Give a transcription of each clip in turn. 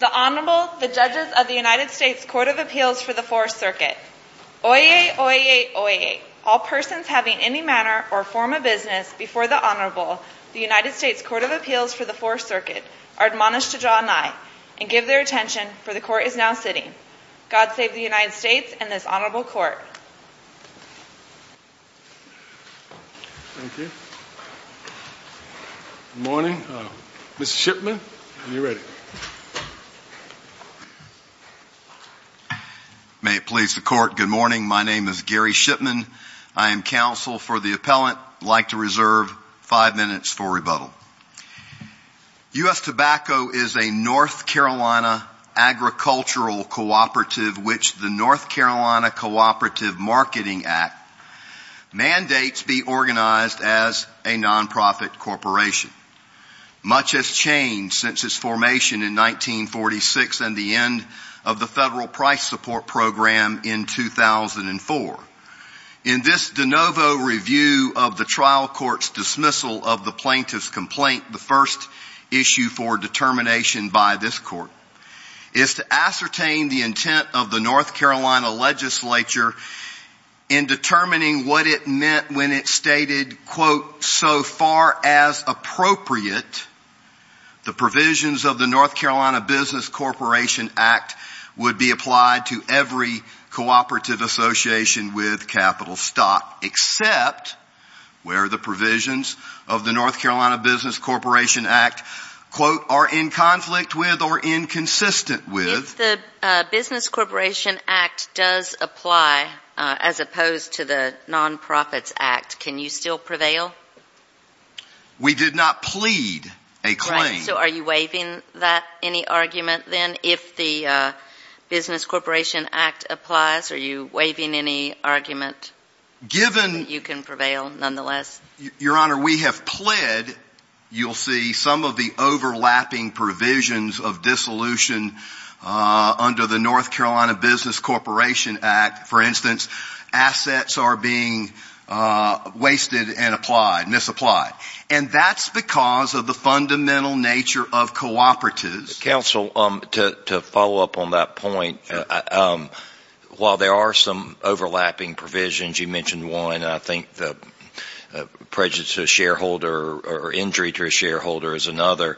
The Honorable, the Judges of the United States Court of Appeals for the Fourth Circuit. Oyez, oyez, oyez. All persons having any manner or form of business before the Honorable, the United States Court of Appeals for the Fourth Circuit are admonished to draw an eye and give their attention for the Court is now sitting. God save the United States and this Honorable Court. Good morning. Mr. Shipman, when you're ready. May it please the Court, good morning. My name is Gary for rebuttal. U. S. Tobacco is a North Carolina agricultural cooperative which the North Carolina Cooperative Marketing Act mandates be organized as a nonprofit corporation. Much has changed since its formation in 1946 and the end of the federal price support program in 2004. In this de novo review of the trial court's dismissal of the plaintiff's complaint, the first issue for determination by this court is to ascertain the intent of the North Carolina legislature in determining what it meant when it stated, quote, so far as appropriate, the provisions of the North Carolina Business Corporation Act would be applied to every cooperative association with capital stock except where the provisions of the North Carolina Business Corporation Act, quote, are in conflict with or inconsistent with. If the Business Corporation Act does apply as opposed to the Nonprofits Act, can you still prevail? We did not plead a claim. So are you waiving that, any argument then if the Business Corporation Act applies? Are you waiving any argument that you can prevail, nonetheless? Your Honor, we have pled. You'll see some of the overlapping provisions of dissolution under the North Carolina Business Corporation Act. For instance, assets are being wasted and applied, misapplied. And that's because of the fundamental nature of cooperatives. Counsel, to follow up on that point, while there are some overlapping provisions, you mentioned one, and I think the prejudice to a shareholder or injury to a shareholder is another.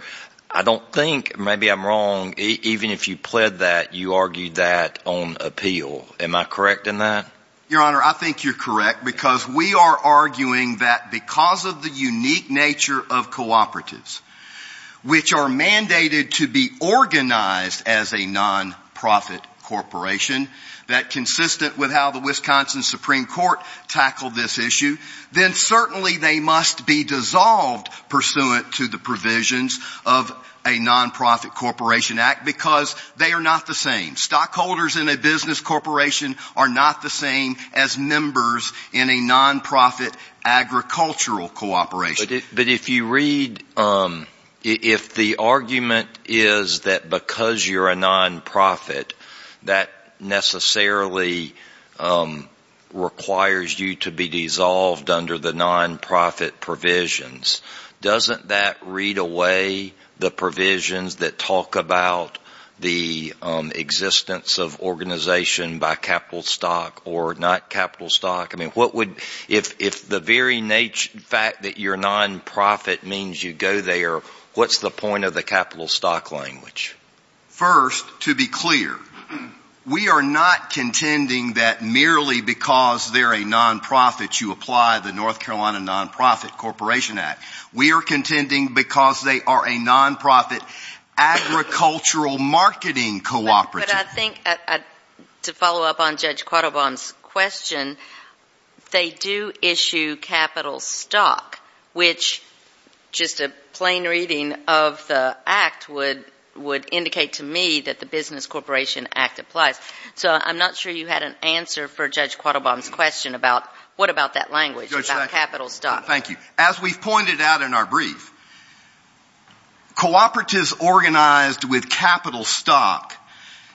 I don't think, maybe I'm wrong, even if you pled that, you argued that on appeal. Am I correct in that? Your Honor, I think you're correct because we are arguing that because of the unique nature of cooperatives, which are mandated to be organized as a nonprofit corporation, that consistent with how the Wisconsin Supreme Court tackled this issue, then certainly they must be dissolved pursuant to the provisions of a nonprofit corporation act because they are not the same. Stockholders in a business corporation are not the same as members in a nonprofit agricultural cooperation. But if you read, if the argument is that because you're a nonprofit, that necessarily requires you to be dissolved under the nonprofit provisions, doesn't that read away the provisions that talk about the existence of organization by capital stock or not capital stock? I mean, what would, if the very fact that you're nonprofit means you go there, what's the point of the capital stock language? First, to be clear, we are not contending that merely because they're a nonprofit you apply the North Carolina Nonprofit Corporation Act. We are contending because they are a nonprofit agricultural marketing cooperative. But I think to follow up on Judge Quattlebaum's question, they do issue capital stock, which just a plain reading of the act would indicate to me that the business corporation act applies. So I'm not sure you had an answer for Judge Quattlebaum's question about what about that language about capital stock. Thank you. As we've pointed out in our brief, cooperatives organized with capital stock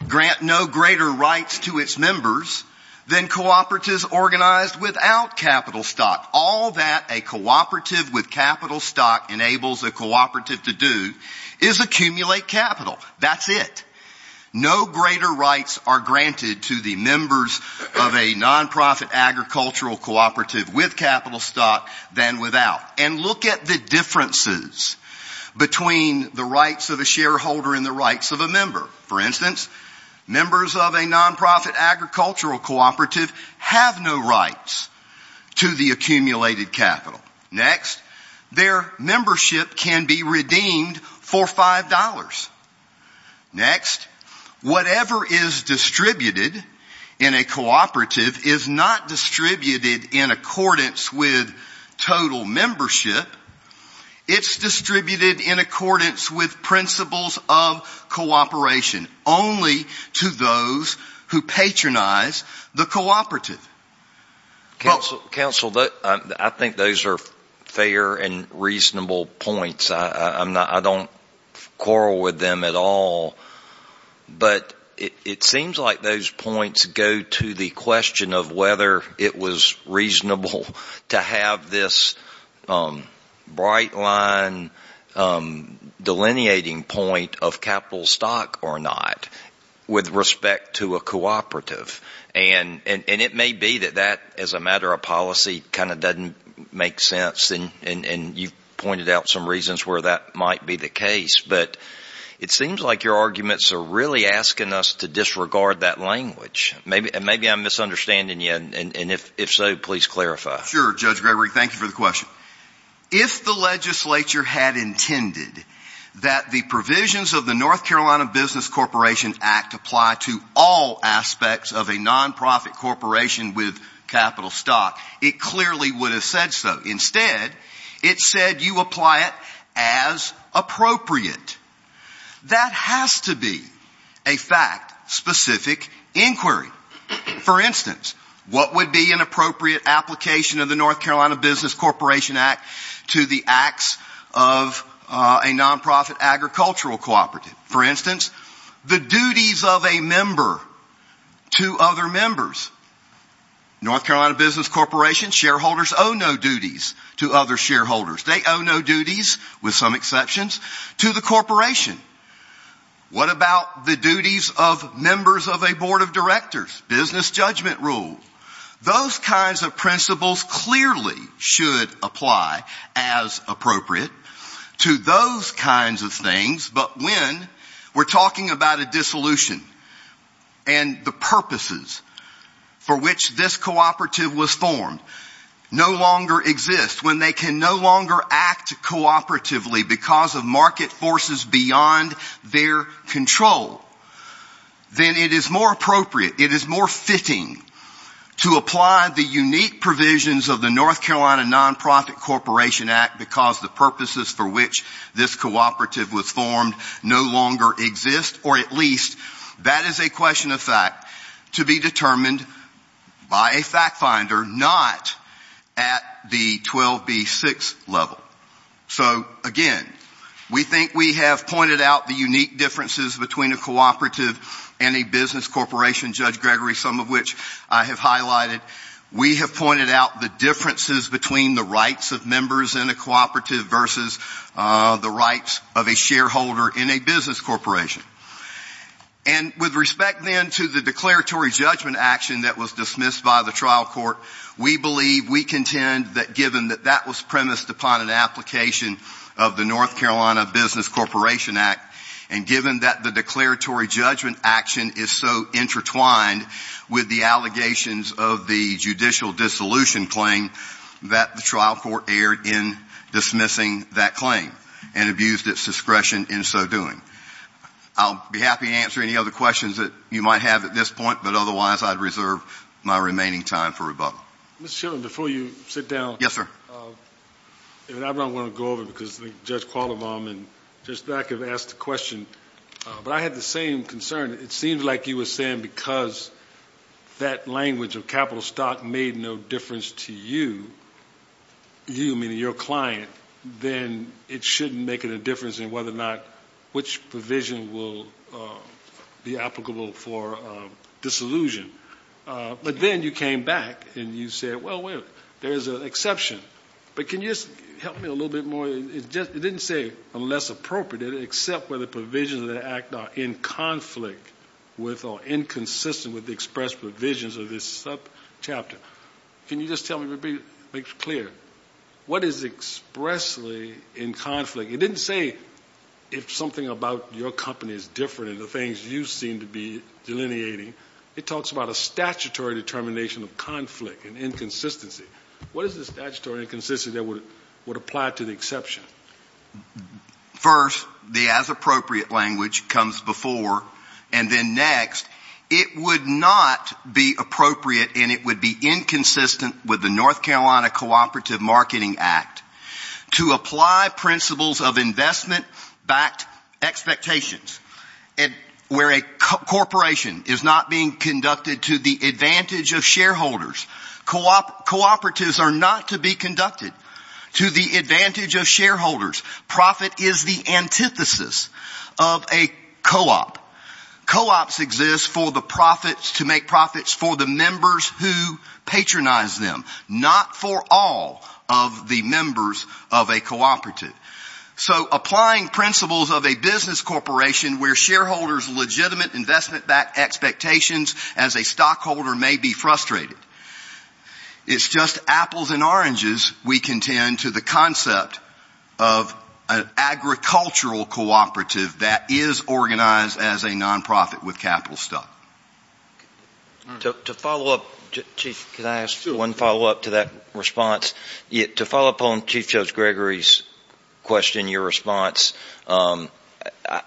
grant no greater rights to its members than cooperatives organized without capital stock. All that a cooperative with capital stock enables a cooperative to do is accumulate capital. That's it. No greater rights are granted to the members of a nonprofit agricultural cooperative with capital stock than without. And look at the differences between the rights of a shareholder and the rights of a member. For instance, members of a nonprofit agricultural cooperative have no rights to the accumulated capital. Next, their membership can be redeemed for five dollars. Next, whatever is distributed in a cooperative is not distributed in accordance with total cooperation, only to those who patronize the cooperative. Counsel, I think those are fair and reasonable points. I don't quarrel with them at all. But it seems like those points go to the question of whether it was reasonable to have this bright line delineating point of capital stock or not with respect to a cooperative. And it may be that that, as a matter of policy, kind of doesn't make sense. And you've pointed out some reasons where that might be the case. But it seems like your arguments are really asking us to disregard that language. Maybe I'm misunderstanding you. And if so, please clarify. Sure, Judge Gregory. Thank you for the question. If the legislature had intended that the provisions of the North Carolina Business Corporation Act apply to all aspects of a nonprofit corporation with capital stock, it clearly would have said so. Instead, it said you apply it as appropriate. That has to be a fact-specific inquiry. For instance, what would be an appropriate application of the North Carolina Business Corporation Act to the acts of a nonprofit agricultural cooperative? For instance, the duties of a member to other members. North Carolina Business Corporation shareholders owe no duties to other shareholders. They owe no duties, with some exceptions, to the corporation. What about the duties of members of board of directors, business judgment rules? Those kinds of principles clearly should apply as appropriate to those kinds of things. But when we're talking about a dissolution and the purposes for which this cooperative was formed no longer exist, when they can no longer act cooperatively because of market forces beyond their control, then it is more appropriate, it is more fitting to apply the unique provisions of the North Carolina Nonprofit Corporation Act because the purposes for which this cooperative was formed no longer exist, or at least that is a question of fact, to be determined by a fact-finder, not at the 12B6 level. So again, we think we have pointed out the unique differences between a cooperative and a business corporation, Judge Gregory, some of which I have highlighted. We have pointed out the differences between the rights of members in a cooperative versus the rights of a shareholder in a business corporation. And with respect then to the declaratory judgment action that was dismissed by the trial court, we believe, we contend that given that that was premised upon an application of the North Carolina Business Corporation Act, and given that the declaratory judgment action is so intertwined with the allegations of the judicial dissolution claim, that the trial court erred in dismissing that claim and abused its discretion in so doing. I'll be happy to answer any other questions that you might have at this point, but otherwise I'd reserve my remaining time for rebuttal. Mr. Chilton, before you sit down, I don't want to go over because Judge Qualamon and Judge Black have asked the question, but I have the same concern. It seems like you to you, you meaning your client, then it shouldn't make any difference in whether or not which provision will be applicable for dissolution. But then you came back and you said, well, there's an exception. But can you just help me a little bit more? It didn't say unless appropriate, except whether provisions of the act are in conflict with or inconsistent with expressed provisions of this subchapter. Can you just tell me, make it clear, what is expressly in conflict? It didn't say if something about your company is different in the things you seem to be delineating. It talks about a statutory determination of conflict and inconsistency. What is the statutory inconsistency that would apply to the exception? First, the as appropriate language comes before, and then next, it would not be appropriate and it would be inconsistent with the North Carolina Cooperative Marketing Act to apply principles of investment-backed expectations where a corporation is not being conducted to the Profit is the antithesis of a co-op. Co-ops exist to make profits for the members who patronize them, not for all of the members of a cooperative. So applying principles of a business corporation where shareholders' legitimate investment-backed expectations as a stockholder may be frustrated. It's just apples and oranges, we contend, to the concept of an agricultural cooperative that is organized as a non-profit with capital stock. To follow up, Chief, can I ask one follow-up to that response? To follow up on Chief Judge Gregory's question, your response, I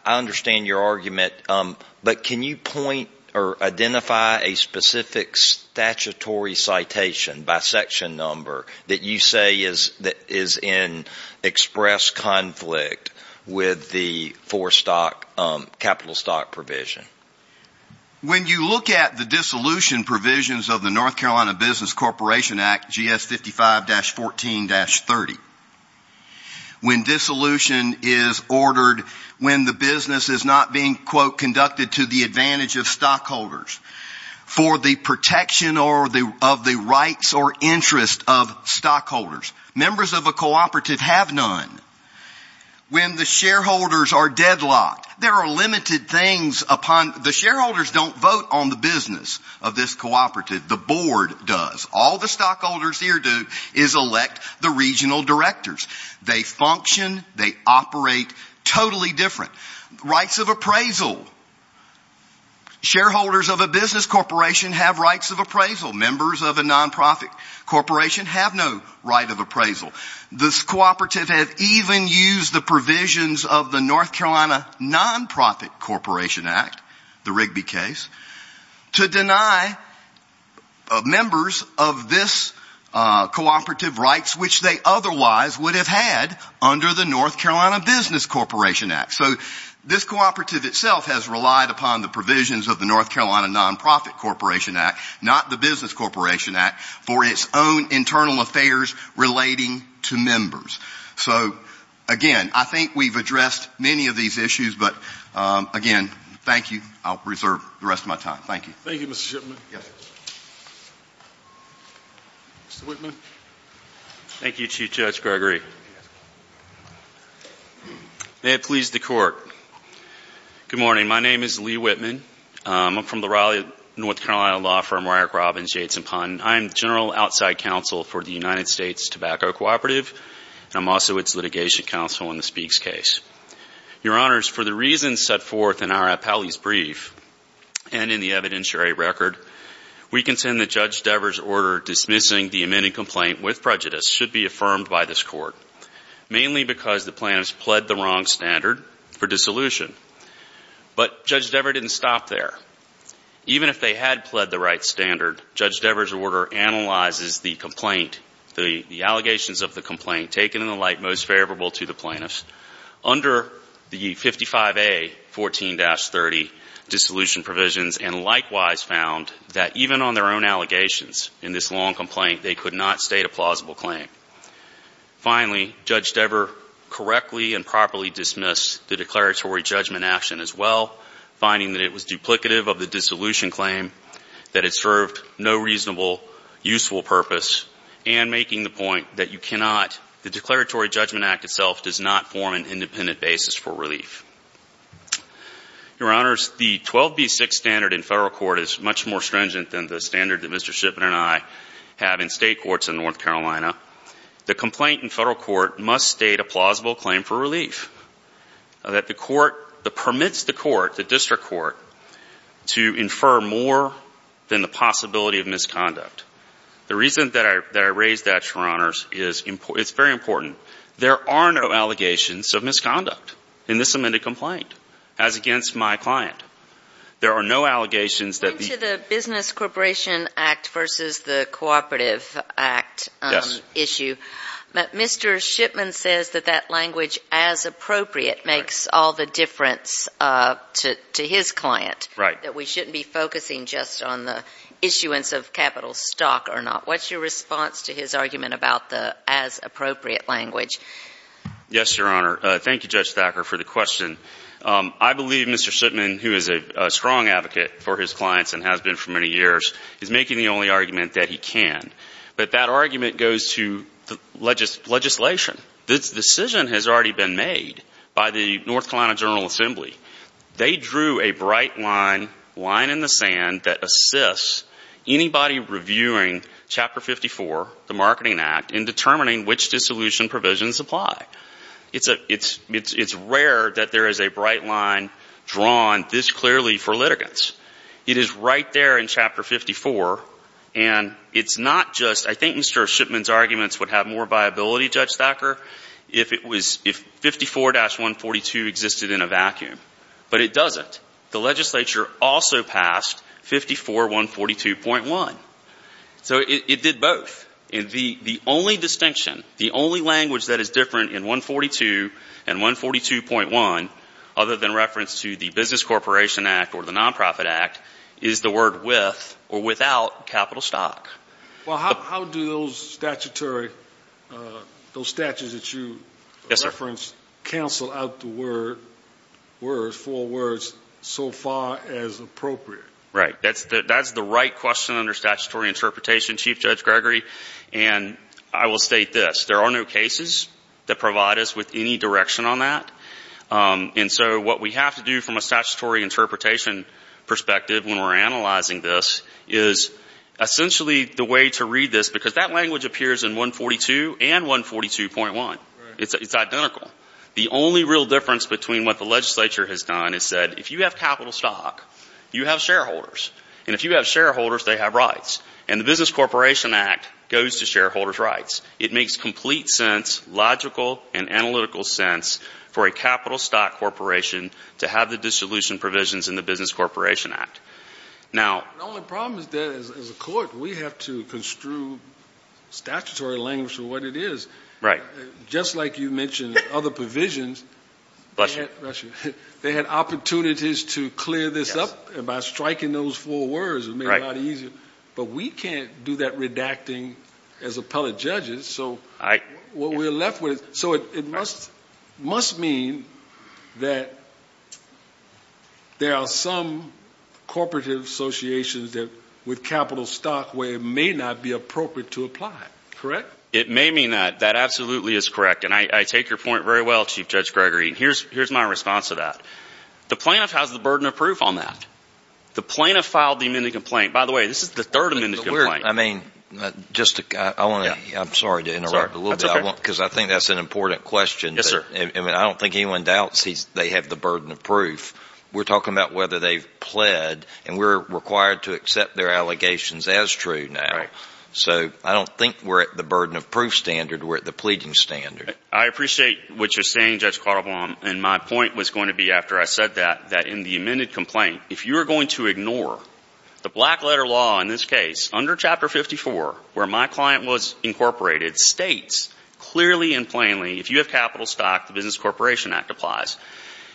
understand your argument, but can you point or identify a specific statutory citation by section number that you say is in express conflict with the for-stock capital stock provision? When you look at the dissolution provisions of the North Carolina Business Corporation Act, GS 55-14-30, when dissolution is ordered when the business is not being, quote, conducted to the advantage of stockholders, for the protection of the rights or interest of stockholders. Members of a cooperative have none. When the shareholders are deadlocked, there are limited things upon, the shareholders don't vote on the business of this cooperative, the board does. All the stockholders here do is elect the regional directors. They function, they operate totally different. Rights of appraisal. Shareholders of a business corporation have rights of appraisal. Members of a non-profit corporation have no right of appraisal. This cooperative has even used the provisions of the North Carolina Non-Profit Corporation Act, the Rigby case, to deny members of this cooperative rights which they otherwise would have had under the North Carolina Business Corporation Act. So this cooperative itself has relied upon the provisions of the North Carolina Non-Profit Corporation Act, not the Business Corporation Act, for its own internal affairs relating to members. So, again, I think we've addressed many of these issues, but, again, thank you. I'll reserve the rest of my time. Thank you. Thank you, Mr. Shipman. Yes, sir. Mr. Whitman. Thank you, Chief Judge Gregory. May it please the Court. Good morning. My name is Lee Whitman. I'm from the Raleigh, North Carolina law firm, Ryer, Grobbins, Yates & Pond. I'm the general outside counsel for the United States Tobacco Cooperative, and I'm also its litigation counsel on the Speaks case. Your Honors, for the reasons set forth in our appellee's brief, and in the evidentiary record, we contend that Judge Dever's order dismissing the amended complaint with prejudice should be affirmed by this Court, mainly because the plaintiffs pled the wrong standard for dissolution. But Judge Dever didn't stop there. Even if they had pled the right standard, Judge Dever's order analyzes the complaint, the allegations of the and likewise found that even on their own allegations in this long complaint, they could not state a plausible claim. Finally, Judge Dever correctly and properly dismissed the declaratory judgment action as well, finding that it was duplicative of the dissolution claim, that it served no reasonable, useful purpose, and making the point that you cannot, the Declaratory Judgment Act itself does not form an independent basis for relief. Your Honors, the 12B6 standard in federal court is much more stringent than the standard that Mr. Shipman and I have in state courts in North Carolina. The complaint in federal court must state a plausible claim for relief, that the court, that permits the court, the district court, to infer more than the possibility of misconduct. The reason that I raised that, Your Honors, is it's very important. There are no allegations of misconduct in this amended complaint, as against my client. There are no allegations that... Going to the Business Corporation Act versus the Cooperative Act issue, Mr. Shipman says that that language, as appropriate, makes all the difference to his client, that we shouldn't be focusing just on the issuance of capital stock or not. What's your response to his argument about the as appropriate language? Yes, Your Honor. Thank you, Judge Thacker, for the question. I believe Mr. Shipman, who is a strong advocate for his clients and has been for many years, is making the only argument that he can. But that argument goes to the legislation. This decision has already been made by the North Carolina General Assembly. They drew a bright line, line in the sand, that assists anybody reviewing Chapter 54, the Marketing Act, in determining which dissolution provisions apply. It's rare that there is a bright line drawn this clearly for litigants. It is right there in Chapter 54, and it's not just... I think Mr. Shipman's arguments would have more viability, Judge Thacker, if 54-142 existed in a vacuum. But it doesn't. The legislature also passed 54-142.1. So it did both. And the only distinction, the only language that is different in 142 and 142.1, other than reference to the Business Corporation Act or the Nonprofit Act, is the word with or without capital stock. Well, how do those statutory, those statutes that you reference, cancel out the word, four words, so far as appropriate? Right. That's the right question under statutory interpretation, Chief Judge Gregory. And I will state this. There are no cases that provide us with any direction on that. And so what we have to do from a statutory interpretation perspective when we're analyzing this is essentially the way to read this, because that language appears in 142 and 142.1. It's identical. The only real difference between what the legislature has done is said, if you have capital stock, you have shareholders. And if you have shareholders, they have rights. And the Business Corporation Act goes to shareholders' rights. It makes complete sense, logical and analytical sense, for a capital stock corporation to have the dissolution provisions in the Business Corporation Act. Now... The only problem is that, as a court, we have to construe statutory language for what it is. Right. Just like you mentioned other provisions, they had opportunities to clear this up by striking those four words. It made it a lot easier. But we can't do that redacting as appellate judges. So what we're left with... So it must mean that there are some corporative associations with capital stock where it may not be appropriate to apply. Correct? It may mean that. That absolutely is correct. And I take your point very well, Chief Judge Gregory. Here's my response to that. The plaintiff has the burden of proof on that. The plaintiff filed the amended complaint. By the way, this is the third amended complaint. I mean, just to... I want to... I'm sorry to interrupt a little bit. That's okay. Because I think that's an important question. Yes, sir. I don't think anyone doubts they have the burden of proof. We're talking about whether they've pled, and we're required to accept their allegations as true now. Right. So I don't think we're at the burden of proof standard. We're at the pleading standard. I appreciate what you're saying, Judge Carlebaum. And my point was going to be, after I said that, that in the amended complaint, if you're going to ignore the black letter law in this case, under Chapter 54, where my client was incorporated, states clearly and plainly, if you have capital stock, the Business Corporation Act applies.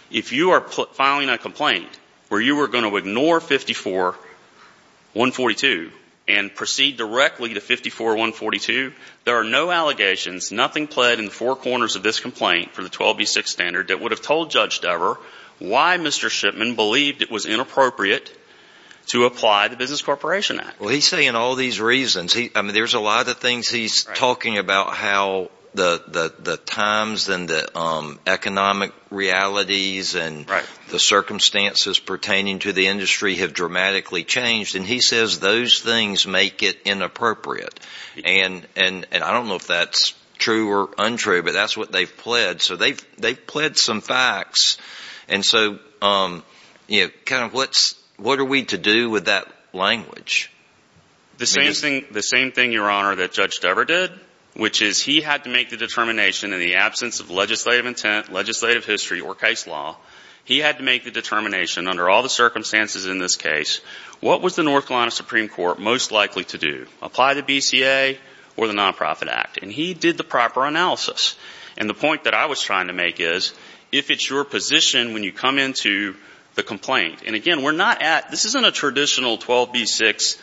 If you are filing a complaint where you were going to ignore 54-142 and proceed directly to 54-142, there are no allegations, nothing pled in the four corners of this complaint for the 12B6 standard that would have told Judge Dover why Mr. Shipman believed it was inappropriate to apply the Business Corporation Act. Well, he's saying all these reasons. I mean, there's a lot of things he's talking about, how the times and the economic realities and the circumstances pertaining to the industry have dramatically changed. And he says those things make it inappropriate. And I don't know if that's true or untrue, but that's what they've pled. So they've pled some facts. And so what are we to do with that language? The same thing, Your Honor, that Judge Dover did, which is he had to make the determination in the absence of legislative intent, legislative history, or case law, he had to make the determination under all the circumstances in this case, what was the North Carolina Supreme Court most likely to do, apply the BCA or the Nonprofit Act? And he did the proper analysis. And the point that I was trying to make is, if it's your position when you come into the complaint, and again, we're not at, this isn't a traditional 12B6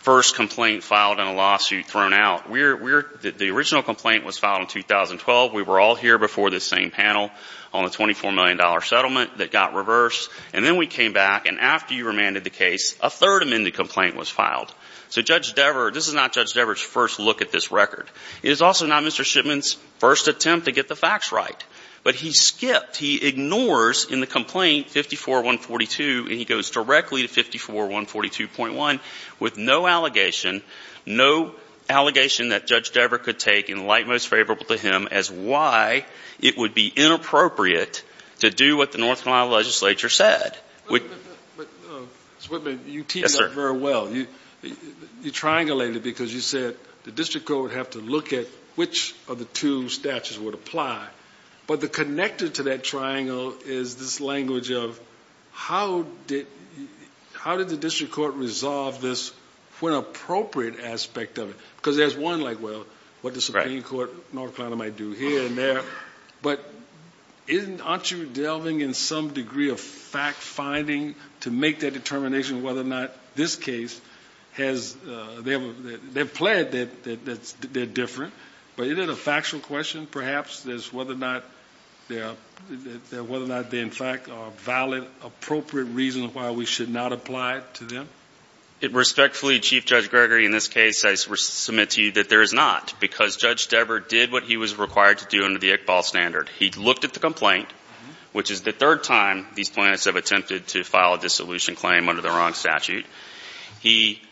first complaint filed in a lawsuit thrown out. The original complaint was filed in 2012. We were all here before this same panel on the $24 million settlement that got reversed. And then we came back, and after you remanded the case, a third amended complaint was filed. So Judge Dover, this is not Judge Dover's first look at this record. It is also not Mr. Shipman's first attempt to get the facts right. But he skipped, he ignores in the complaint 54-142, and he goes directly to 54-142.1 with no allegation, no allegation that Judge Dover could take and light most favorable to him as why it would be inappropriate to do what the North Carolina legislature said. But, Mr. Whitman, you teamed up very well. You triangulated because you said the district court would have to look at which of the two statutes would apply. But the connector to that triangle is this language of how did the district court resolve this when appropriate aspect of it? Because there's one like, well, what the Supreme Court of North Carolina might do here and there. But aren't you delving in some degree of fact-finding to make that they're different? But isn't it a factual question, perhaps, as whether or not they in fact are valid, appropriate reasons why we should not apply it to them? It respectfully, Chief Judge Gregory, in this case, I submit to you that there is not, because Judge Dover did what he was required to do under the Iqbal standard. He looked at the complaint, which is the third time these plaintiffs have attempted to file a dissolution claim under the wrong statute. He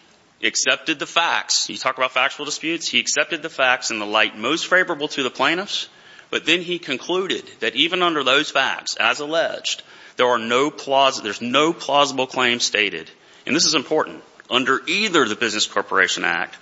accepted the facts. He talked about factual disputes. He accepted the facts in the light most favorable to the plaintiffs. But then he concluded that even under those facts, as alleged, there are no plausible — there's no plausible claim stated. And this is important. Under either the Business Corporation Act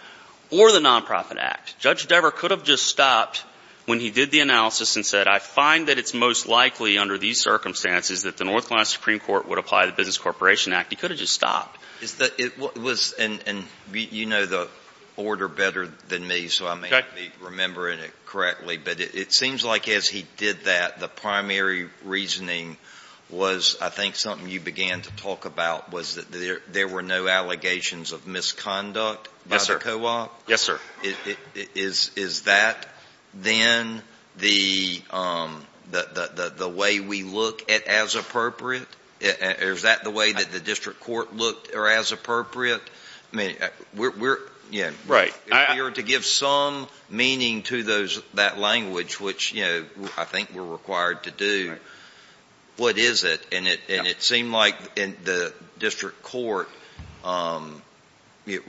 or the Nonprofit Act, Judge Dover could have just stopped when he did the analysis and said, I find that it's most likely under these circumstances that the North Carolina Supreme Court would apply the Business Corporation Act. He could have just stopped. Is the — it was — and you know the order better than me, so I may not be remembering it correctly, but it seems like as he did that, the primary reasoning was, I think, something you began to talk about, was that there were no allegations of misconduct by the co-op? Yes, sir. Is that then the way we look at as appropriate? Is that the way that the district court looked, or as appropriate? I mean, we're — Right. If we were to give some meaning to those — that language, which, you know, I think we're required to do, what is it? And it seemed like in the district court, it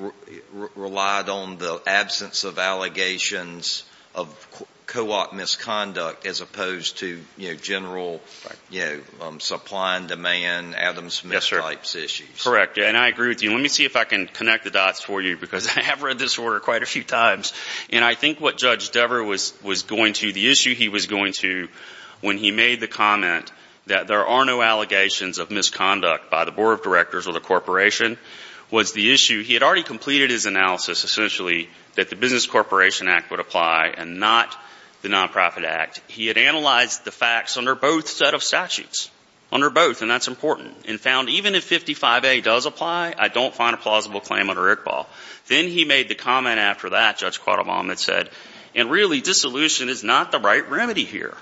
relied on the absence of allegations of co-op misconduct as opposed to, you know, general, you know, supply and demand, Adam Smith-type issues. Correct. And I agree with you. Let me see if I can connect the dots for you, because I have read this order quite a few times. And I think what Judge Dever was going to — the issue he was going to when he made the comment that there are no allegations of misconduct by the board of directors or the corporation was the issue — he had already completed his analysis, essentially, that the Business Corporation Act would apply and not the Nonprofit Act. He had analyzed the facts under both set of statutes, under both, and that's important, and found even if 55A does apply, I don't find a plausible claim under ICBAL. Then he made the comment after that, Judge Quattlebaum, that said, and really, dissolution is not the right remedy here.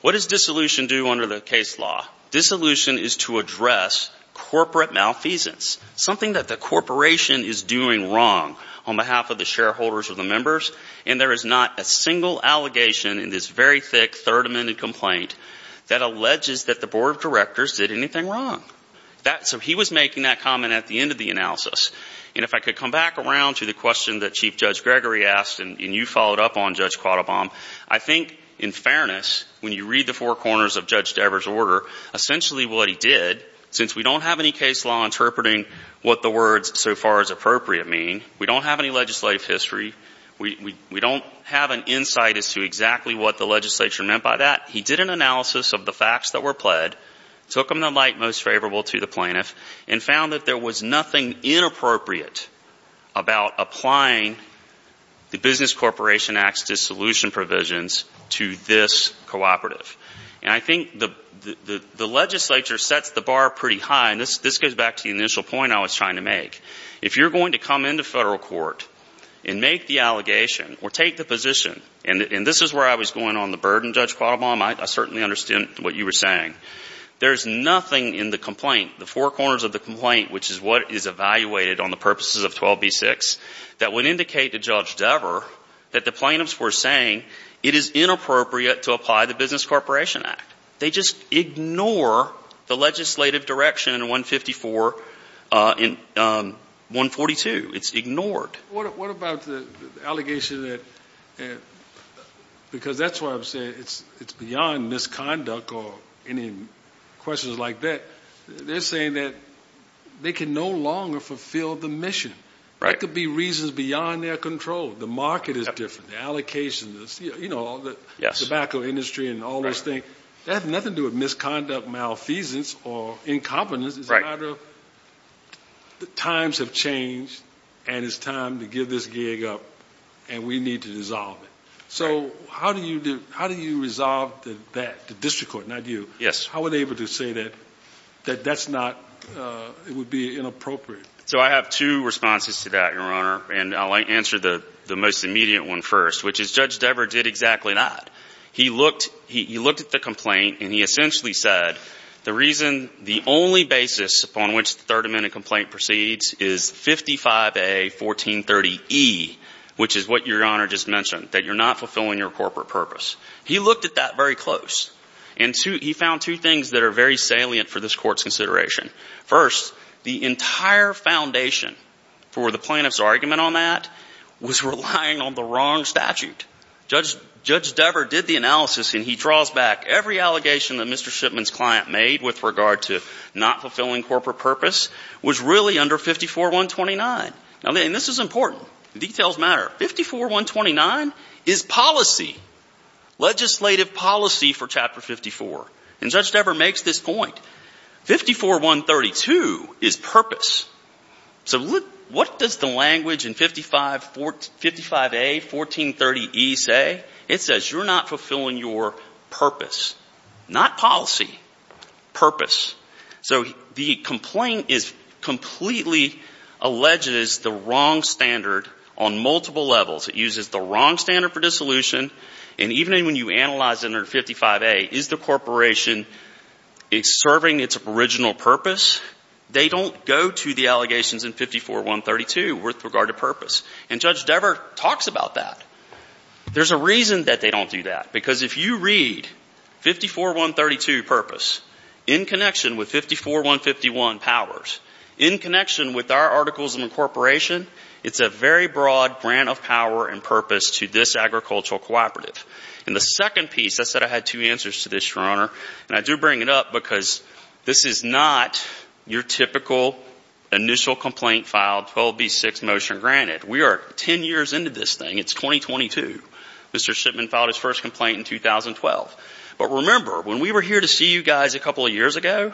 What does dissolution do under the case law? Dissolution is to address corporate malfeasance, something that the corporation is doing wrong on behalf of the shareholders or the members, and there is not a single allegation in this very thick Third Amendment complaint that alleges that the board of directors did anything wrong. So he was making that comment at the end of the analysis. And if I could come back around to the question that Chief Judge Gregory asked, and you followed up on, Judge Quattlebaum, I think, in fairness, when you read the four corners of Judge Dever's order, essentially what he did, since we don't have any case law interpreting what the words, so far as appropriate, mean, we don't have any legislative history, we don't have an insight as to exactly what the legislature meant by that. He did an analysis of the facts that were pled, took them to the light most favorable to the plaintiff, and found that there was nothing inappropriate about applying the Business Corporation Act's dissolution provisions to this cooperative. And I think the legislature sets the bar pretty high, and this goes back to the initial point I was trying to make. If you're going to come into federal court and make the allegation or take the position, and this is where I was going on the burden, Judge Quattlebaum, I certainly understand what you were saying. There's nothing in the complaint, the four corners of the complaint, which is what is evaluated on the purposes of 12b-6, that would indicate to Judge Dever that the plaintiffs were saying it is inappropriate to apply the Business Corporation Act. They just ignore the court. What about the allegation that, because that's why I'm saying it's beyond misconduct or any questions like that. They're saying that they can no longer fulfill the mission. There could be reasons beyond their control. The market is different, the allocation, you know, the tobacco industry and all those things. That has nothing to do with the issue. It's time to give this gig up, and we need to dissolve it. So how do you resolve that? The district court, not you. How are they able to say that that's not, it would be inappropriate? So I have two responses to that, Your Honor, and I'll answer the most immediate one first, which is Judge Dever did exactly not. He looked at the complaint and he essentially said the reason, the only basis upon which the Third Amendment complaint proceeds is 55A1430E, which is what Your Honor just mentioned, that you're not fulfilling your corporate purpose. He looked at that very close, and he found two things that are very salient for this Court's consideration. First, the entire foundation for the plaintiff's argument on that was relying on the wrong statute. Judge Dever did the analysis, and he draws back every allegation that Mr. Shipman's client made with regard to not fulfilling corporate purpose was really under 54.129. And this is important. Details matter. 54.129 is policy, legislative policy for Chapter 54. And Judge Dever makes this point. 54.132 is purpose. So what does the language in 55A1430E say? It says you're not fulfilling your purpose. Not policy. Purpose. So the complaint is completely alleged as the wrong standard on multiple levels. It uses the wrong standard for dissolution, and even when you analyze under 55A, is the corporation serving its original purpose, they don't go to the allegations in 54.132 with regard to purpose. And if you read 54.132, purpose, in connection with 54.151, powers, in connection with our articles of incorporation, it's a very broad grant of power and purpose to this agricultural cooperative. And the second piece, I said I had two answers to this, Your Honor, and I do bring it up because this is not your typical initial complaint filed, 12B6 motion granted. We are 10 years into this thing. It's 2022. Mr. Shipman filed his first complaint in 2012. But remember, when we were here to see you guys a couple of years ago,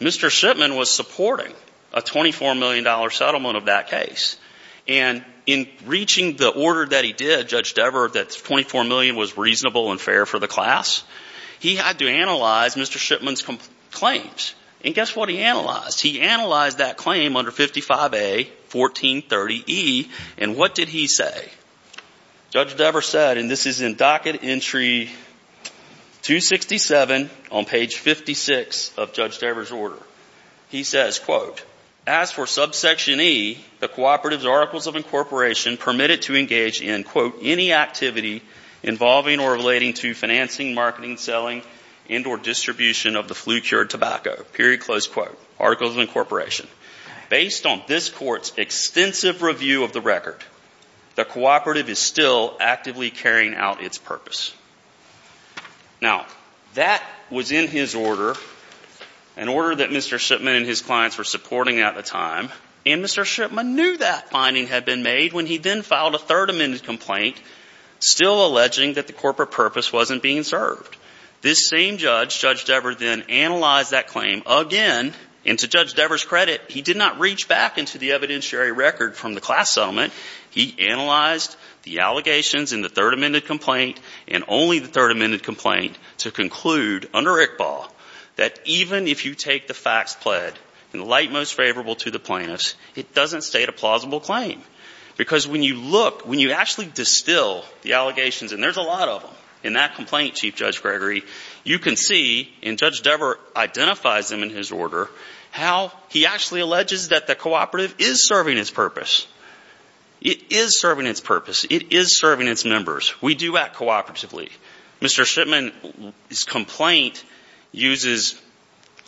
Mr. Shipman was supporting a $24 million settlement of that case. And in reaching the order that he did, Judge Dever, that 24 million was reasonable and fair for the class, he had to analyze Mr. Shipman's claims. And guess what he analyzed? He analyzed that claim under 55A1430E, and what did he say? Judge Dever said, and this is in docket entry 267 on page 56 of Judge Dever's order, he says, quote, as for subsection E, the cooperative's articles of incorporation permitted to engage in, quote, any activity involving or relating to financing, marketing, selling, and or distribution of the flu-cured tobacco, period, close quote, articles of incorporation. Based on this court's extensive review of the cooperative is still actively carrying out its purpose. Now, that was in his order, an order that Mr. Shipman and his clients were supporting at the time. And Mr. Shipman knew that finding had been made when he then filed a third amended complaint, still alleging that the corporate purpose wasn't being served. This same judge, Judge Dever, then analyzed that claim again. And to Judge Dever's credit, he did not reach back into the evidentiary record from the class settlement. He analyzed the allegations in the third amended complaint, and only the third amended complaint, to conclude under ICBAH that even if you take the facts pled and light most favorable to the plaintiffs, it doesn't state a plausible claim. Because when you look, when you actually distill the allegations, and there's a lot of them in that complaint, Chief Judge Gregory, you can see, and Judge Dever identifies them in his order, how he actually alleges that the cooperative is serving its purpose. It is serving its purpose. It is serving its members. We do act cooperatively. Mr. Shipman's complaint uses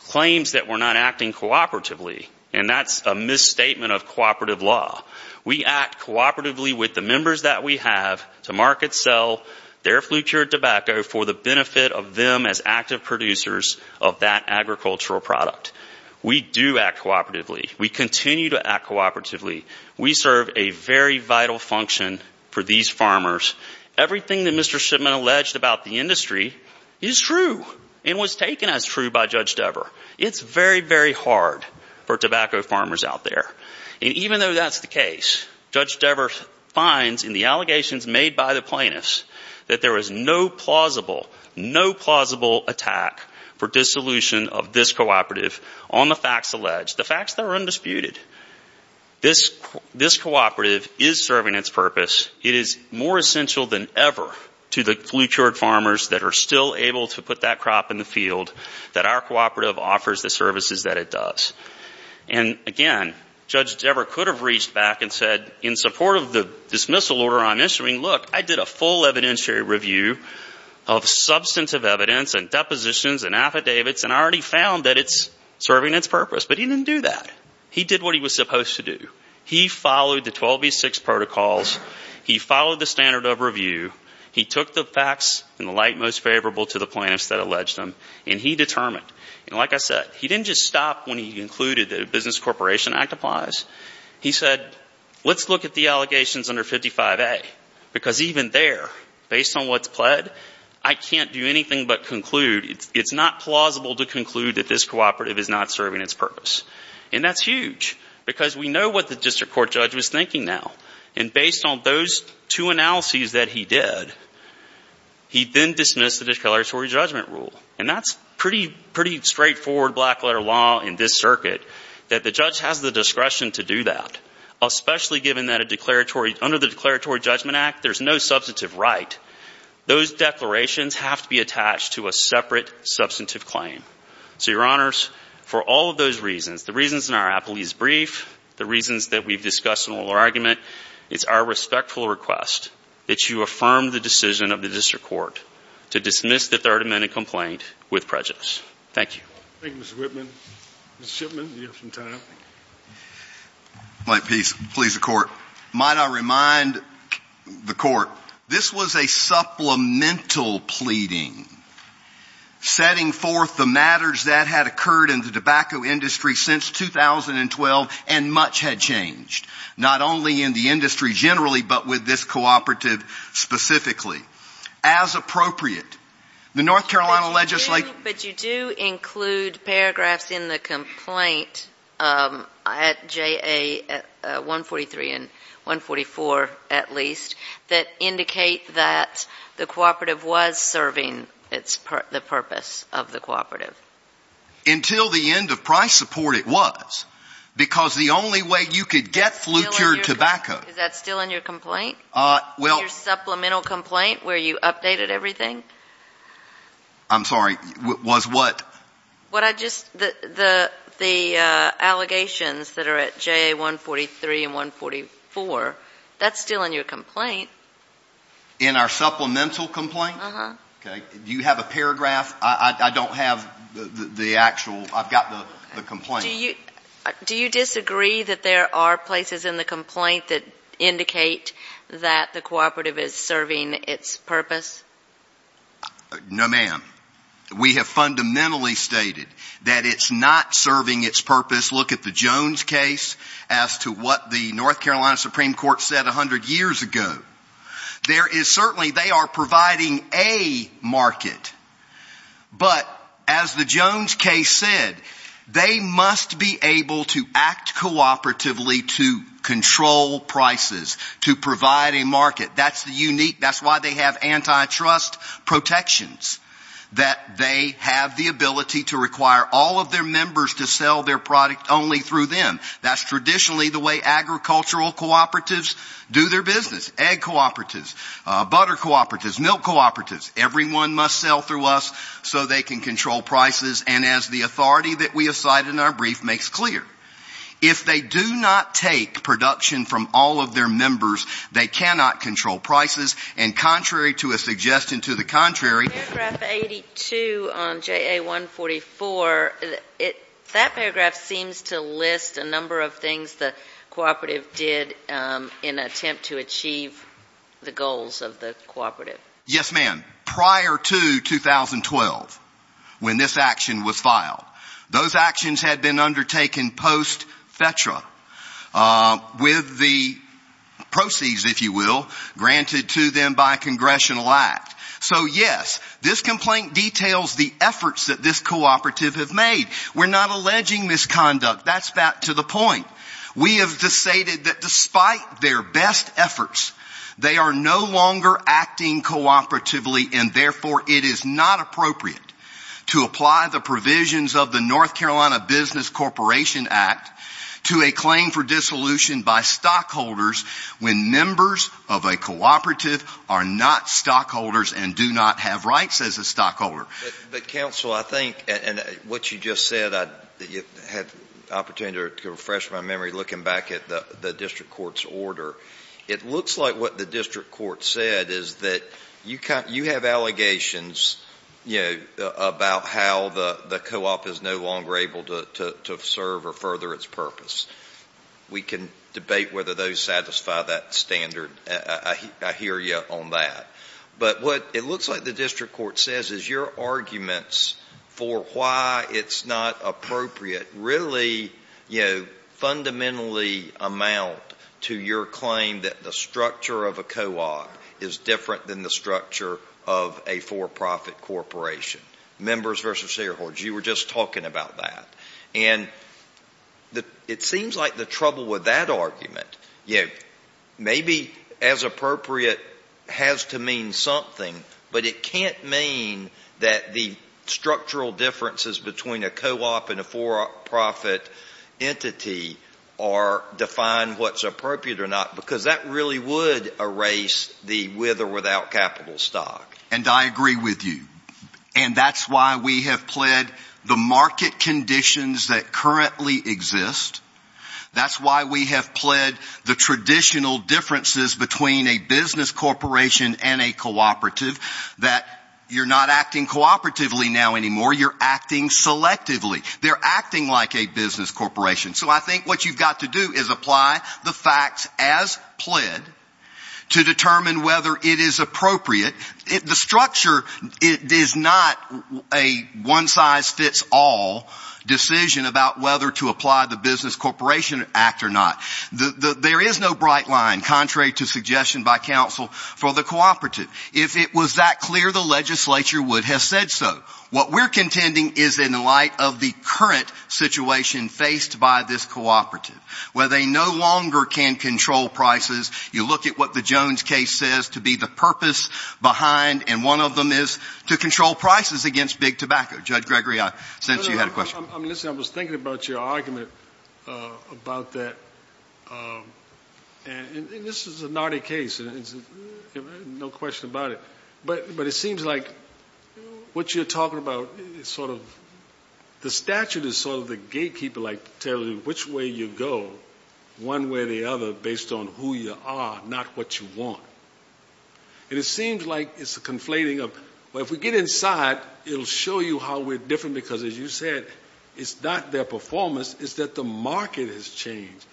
claims that we're not acting cooperatively, and that's a misstatement of cooperative law. We act cooperatively with the members that we have to market, sell their flu cured tobacco for the benefit of them as active producers of that agricultural product. We do act cooperatively. We continue to act cooperatively. We serve a very vital function for these farmers. Everything that Mr. Shipman alleged about the industry is true and was taken as true by Judge Dever. It's very, very hard for tobacco farmers out there. And even though that's the case, Judge Dever finds in the allegations made by the plaintiffs that there is no plausible, no plausible attack for dissolution of this cooperative on the facts alleged, the facts that are undisputed. This cooperative is serving its purpose. It is more essential than ever to the flu cured farmers that are still able to put that crop in the field that our cooperative offers the services that it does. And again, Judge Dever could have reached back and said, in support of the dismissal order I'm issuing, look, I did a full evidentiary review of substantive evidence and depositions and affidavits, and I already found that it's serving its purpose. He did that. He did what he was supposed to do. He followed the 12B6 protocols. He followed the standard of review. He took the facts in the light most favorable to the plaintiffs that alleged them. And he determined, and like I said, he didn't just stop when he concluded that a business corporation act applies. He said, let's look at the allegations under 55A, because even there, based on what's pled, I can't do anything but conclude. It's not plausible to conclude that this cooperative is not serving its purpose. And that's huge, because we know what the district court judge was thinking now. And based on those two analyses that he did, he then dismissed the declaratory judgment rule. And that's pretty straightforward black letter law in this circuit, that the judge has the discretion to do that, especially given that under the declaratory judgment act, there's no substantive right. Those declarations have to be attached to a separate substantive claim. So, your honors, for all of those reasons, the reasons in our appellee's brief, the reasons that we've discussed in the oral argument, it's our respectful request that you affirm the decision of the district court to dismiss the third amendment complaint with prejudice. Thank you. Thank you, Mr. Whitman. Mr. Shipman, you have some time. My piece, please, the court. Might I remind the court, this was a supplemental pleading, setting forth the matters that had occurred in the tobacco industry since 2012, and much had changed, not only in the industry generally, but with this cooperative specifically. As appropriate, the North Carolina legislature But you do include paragraphs in the complaint at JA 143 and 144, at least, that indicate that the cooperative was serving the purpose of the cooperative. Until the end of price support, it was, because the only way you could get flu-cured tobacco Is that still in your complaint? Your supplemental complaint, where you updated everything? I'm sorry, was what? What I just, the allegations that are at JA 143 and 144, that's still in your complaint. In our supplemental complaint? Uh-huh. Okay. Do you have a paragraph? I don't have the actual, I've got the complaint. Do you disagree that there are places in the complaint that indicate that the cooperative is serving its purpose? No, ma'am. We have fundamentally stated that it's not serving its purpose. Look at the Jones case as to what the North Carolina Supreme Court said 100 years ago. There is certainly, they are providing a market, but as the Jones case said, they must be able to act cooperatively to control prices, to provide a market. That's the unique, that's why they have antitrust protections, that they have the ability to require all of their members to sell their product only through them. That's traditionally the way agricultural cooperatives do their business. Egg cooperatives, butter cooperatives, milk cooperatives, everyone must sell through us so they can control prices. And as the authority that we have cited in our brief makes clear, if they do not take production from all of their members, they cannot control prices. And contrary to a suggestion to the contrary- Paragraph 82 on JA 144, that paragraph seems to list a number of things the cooperative did in an attempt to achieve the goals of the cooperative. Yes, ma'am. Prior to 2012, when this action was filed, those actions had been undertaken post FETRA with the proceeds, if you will, granted to them by a congressional act. So yes, this complaint details the efforts that this cooperative have made. We're not alleging misconduct. That's back to the point. We have decided that despite their best efforts, they are no longer acting cooperatively and therefore it is not appropriate to apply the provisions of the North Carolina Business Corporation Act to a claim for dissolution by stockholders when members of a cooperative are not stockholders and do not have rights as a opportunity to refresh my memory looking back at the district court's order. It looks like what the district court said is that you have allegations about how the co-op is no longer able to serve or further its purpose. We can debate whether those satisfy that standard. I hear you on that. But what it looks like the district court says is your arguments for why it's not appropriate really, you know, fundamentally amount to your claim that the structure of a co-op is different than the structure of a for-profit corporation. Members versus shareholders, you were just talking about that. And it seems like the trouble with that argument, you know, maybe as appropriate has to mean something, but it can't mean that the structural differences between a co-op and a for-profit entity are defined what's appropriate or not because that really would erase the with or without capital stock. And I agree with you. And that's why we have pled the market conditions that currently exist. That's why we have pled the traditional differences between a business corporation and a cooperative that you're not acting cooperatively now anymore. You're acting selectively. They're acting like a business corporation. So I think what you've got to do is apply the facts as pled to determine whether it is appropriate. The structure is not a one size fits all decision about whether to apply the business corporation act or not. There is no bright line, contrary to suggestion by counsel for the cooperative. If it was that clear, the legislature would have said so. What we're contending is in light of the current situation faced by this cooperative, where they no longer can control prices. You look at what the Jones case says to be the purpose behind, and one of them is to control prices against big tobacco. Judge Gregory, I sense you had a question. I'm listening. I was thinking about your argument about that. And this is a naughty case. No question about it. But it seems like what you're talking about is sort of, the statute is sort of the gatekeeper, like telling you which way you go, one way or the other, based on who you are, not what you want. And it seems like it's a conflating of, well, if we get inside, it'll show you how we're different, because as you said, it's not their performance, it's that the market has changed.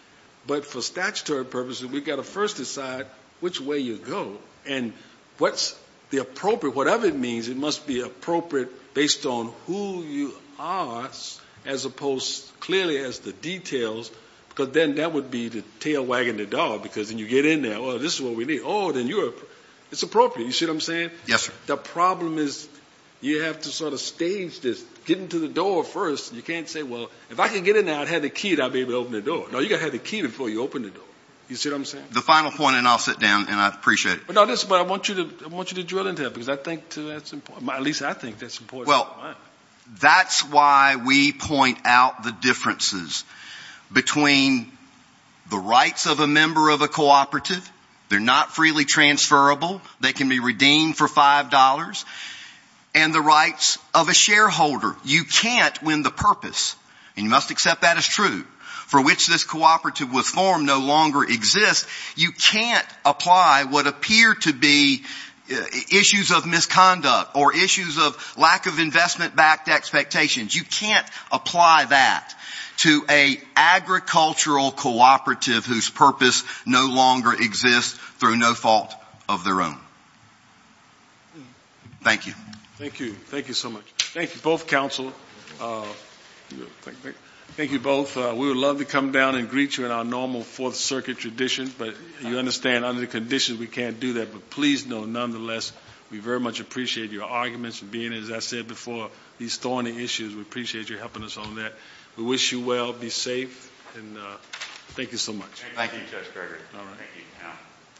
But for statutory purposes, we've got to first decide which way you go. And what's the appropriate, whatever it means, it must be appropriate based on who you are, as opposed, clearly, as the details, because then that would be the tail wagging the dog, because then you get in there, well, this is what we need. Oh, then you're, it's appropriate. You see what I'm saying? Yes, sir. The problem is, you have to sort of stage this, get into the door first, and you can't say, well, if I can get in there, I'd have the key that I'd be able to open the door. No, you got to have the key before you open the door. You see what I'm saying? The final point, and I'll sit down, and I appreciate it. But no, listen, I want you to drill into that, because I think that's important. At least I think that's important. Well, that's why we point out the differences between the rights of a member of a cooperative, they're not freely transferable, they can be redeemed for $5, and the rights of a shareholder. You can't win the purpose, and you must accept that as true, for which this cooperative was formed no longer exists. You can't apply what appear to be issues of misconduct or issues of lack of investment-backed expectations. You can't apply that to a agricultural cooperative whose purpose no longer exists through no fault of their own. Thank you. Thank you. Thank you so much. Thank you both, counsel. Thank you both. We would love to come down and greet you in our normal Fourth Circuit tradition, but you understand, under the conditions, we can't do that. But please know, nonetheless, we very much appreciate your arguments and being, as I said before, these thorny issues. We appreciate you helping us on that. We wish you well. Be safe. Thank you so much. Thank you, Judge Gregory.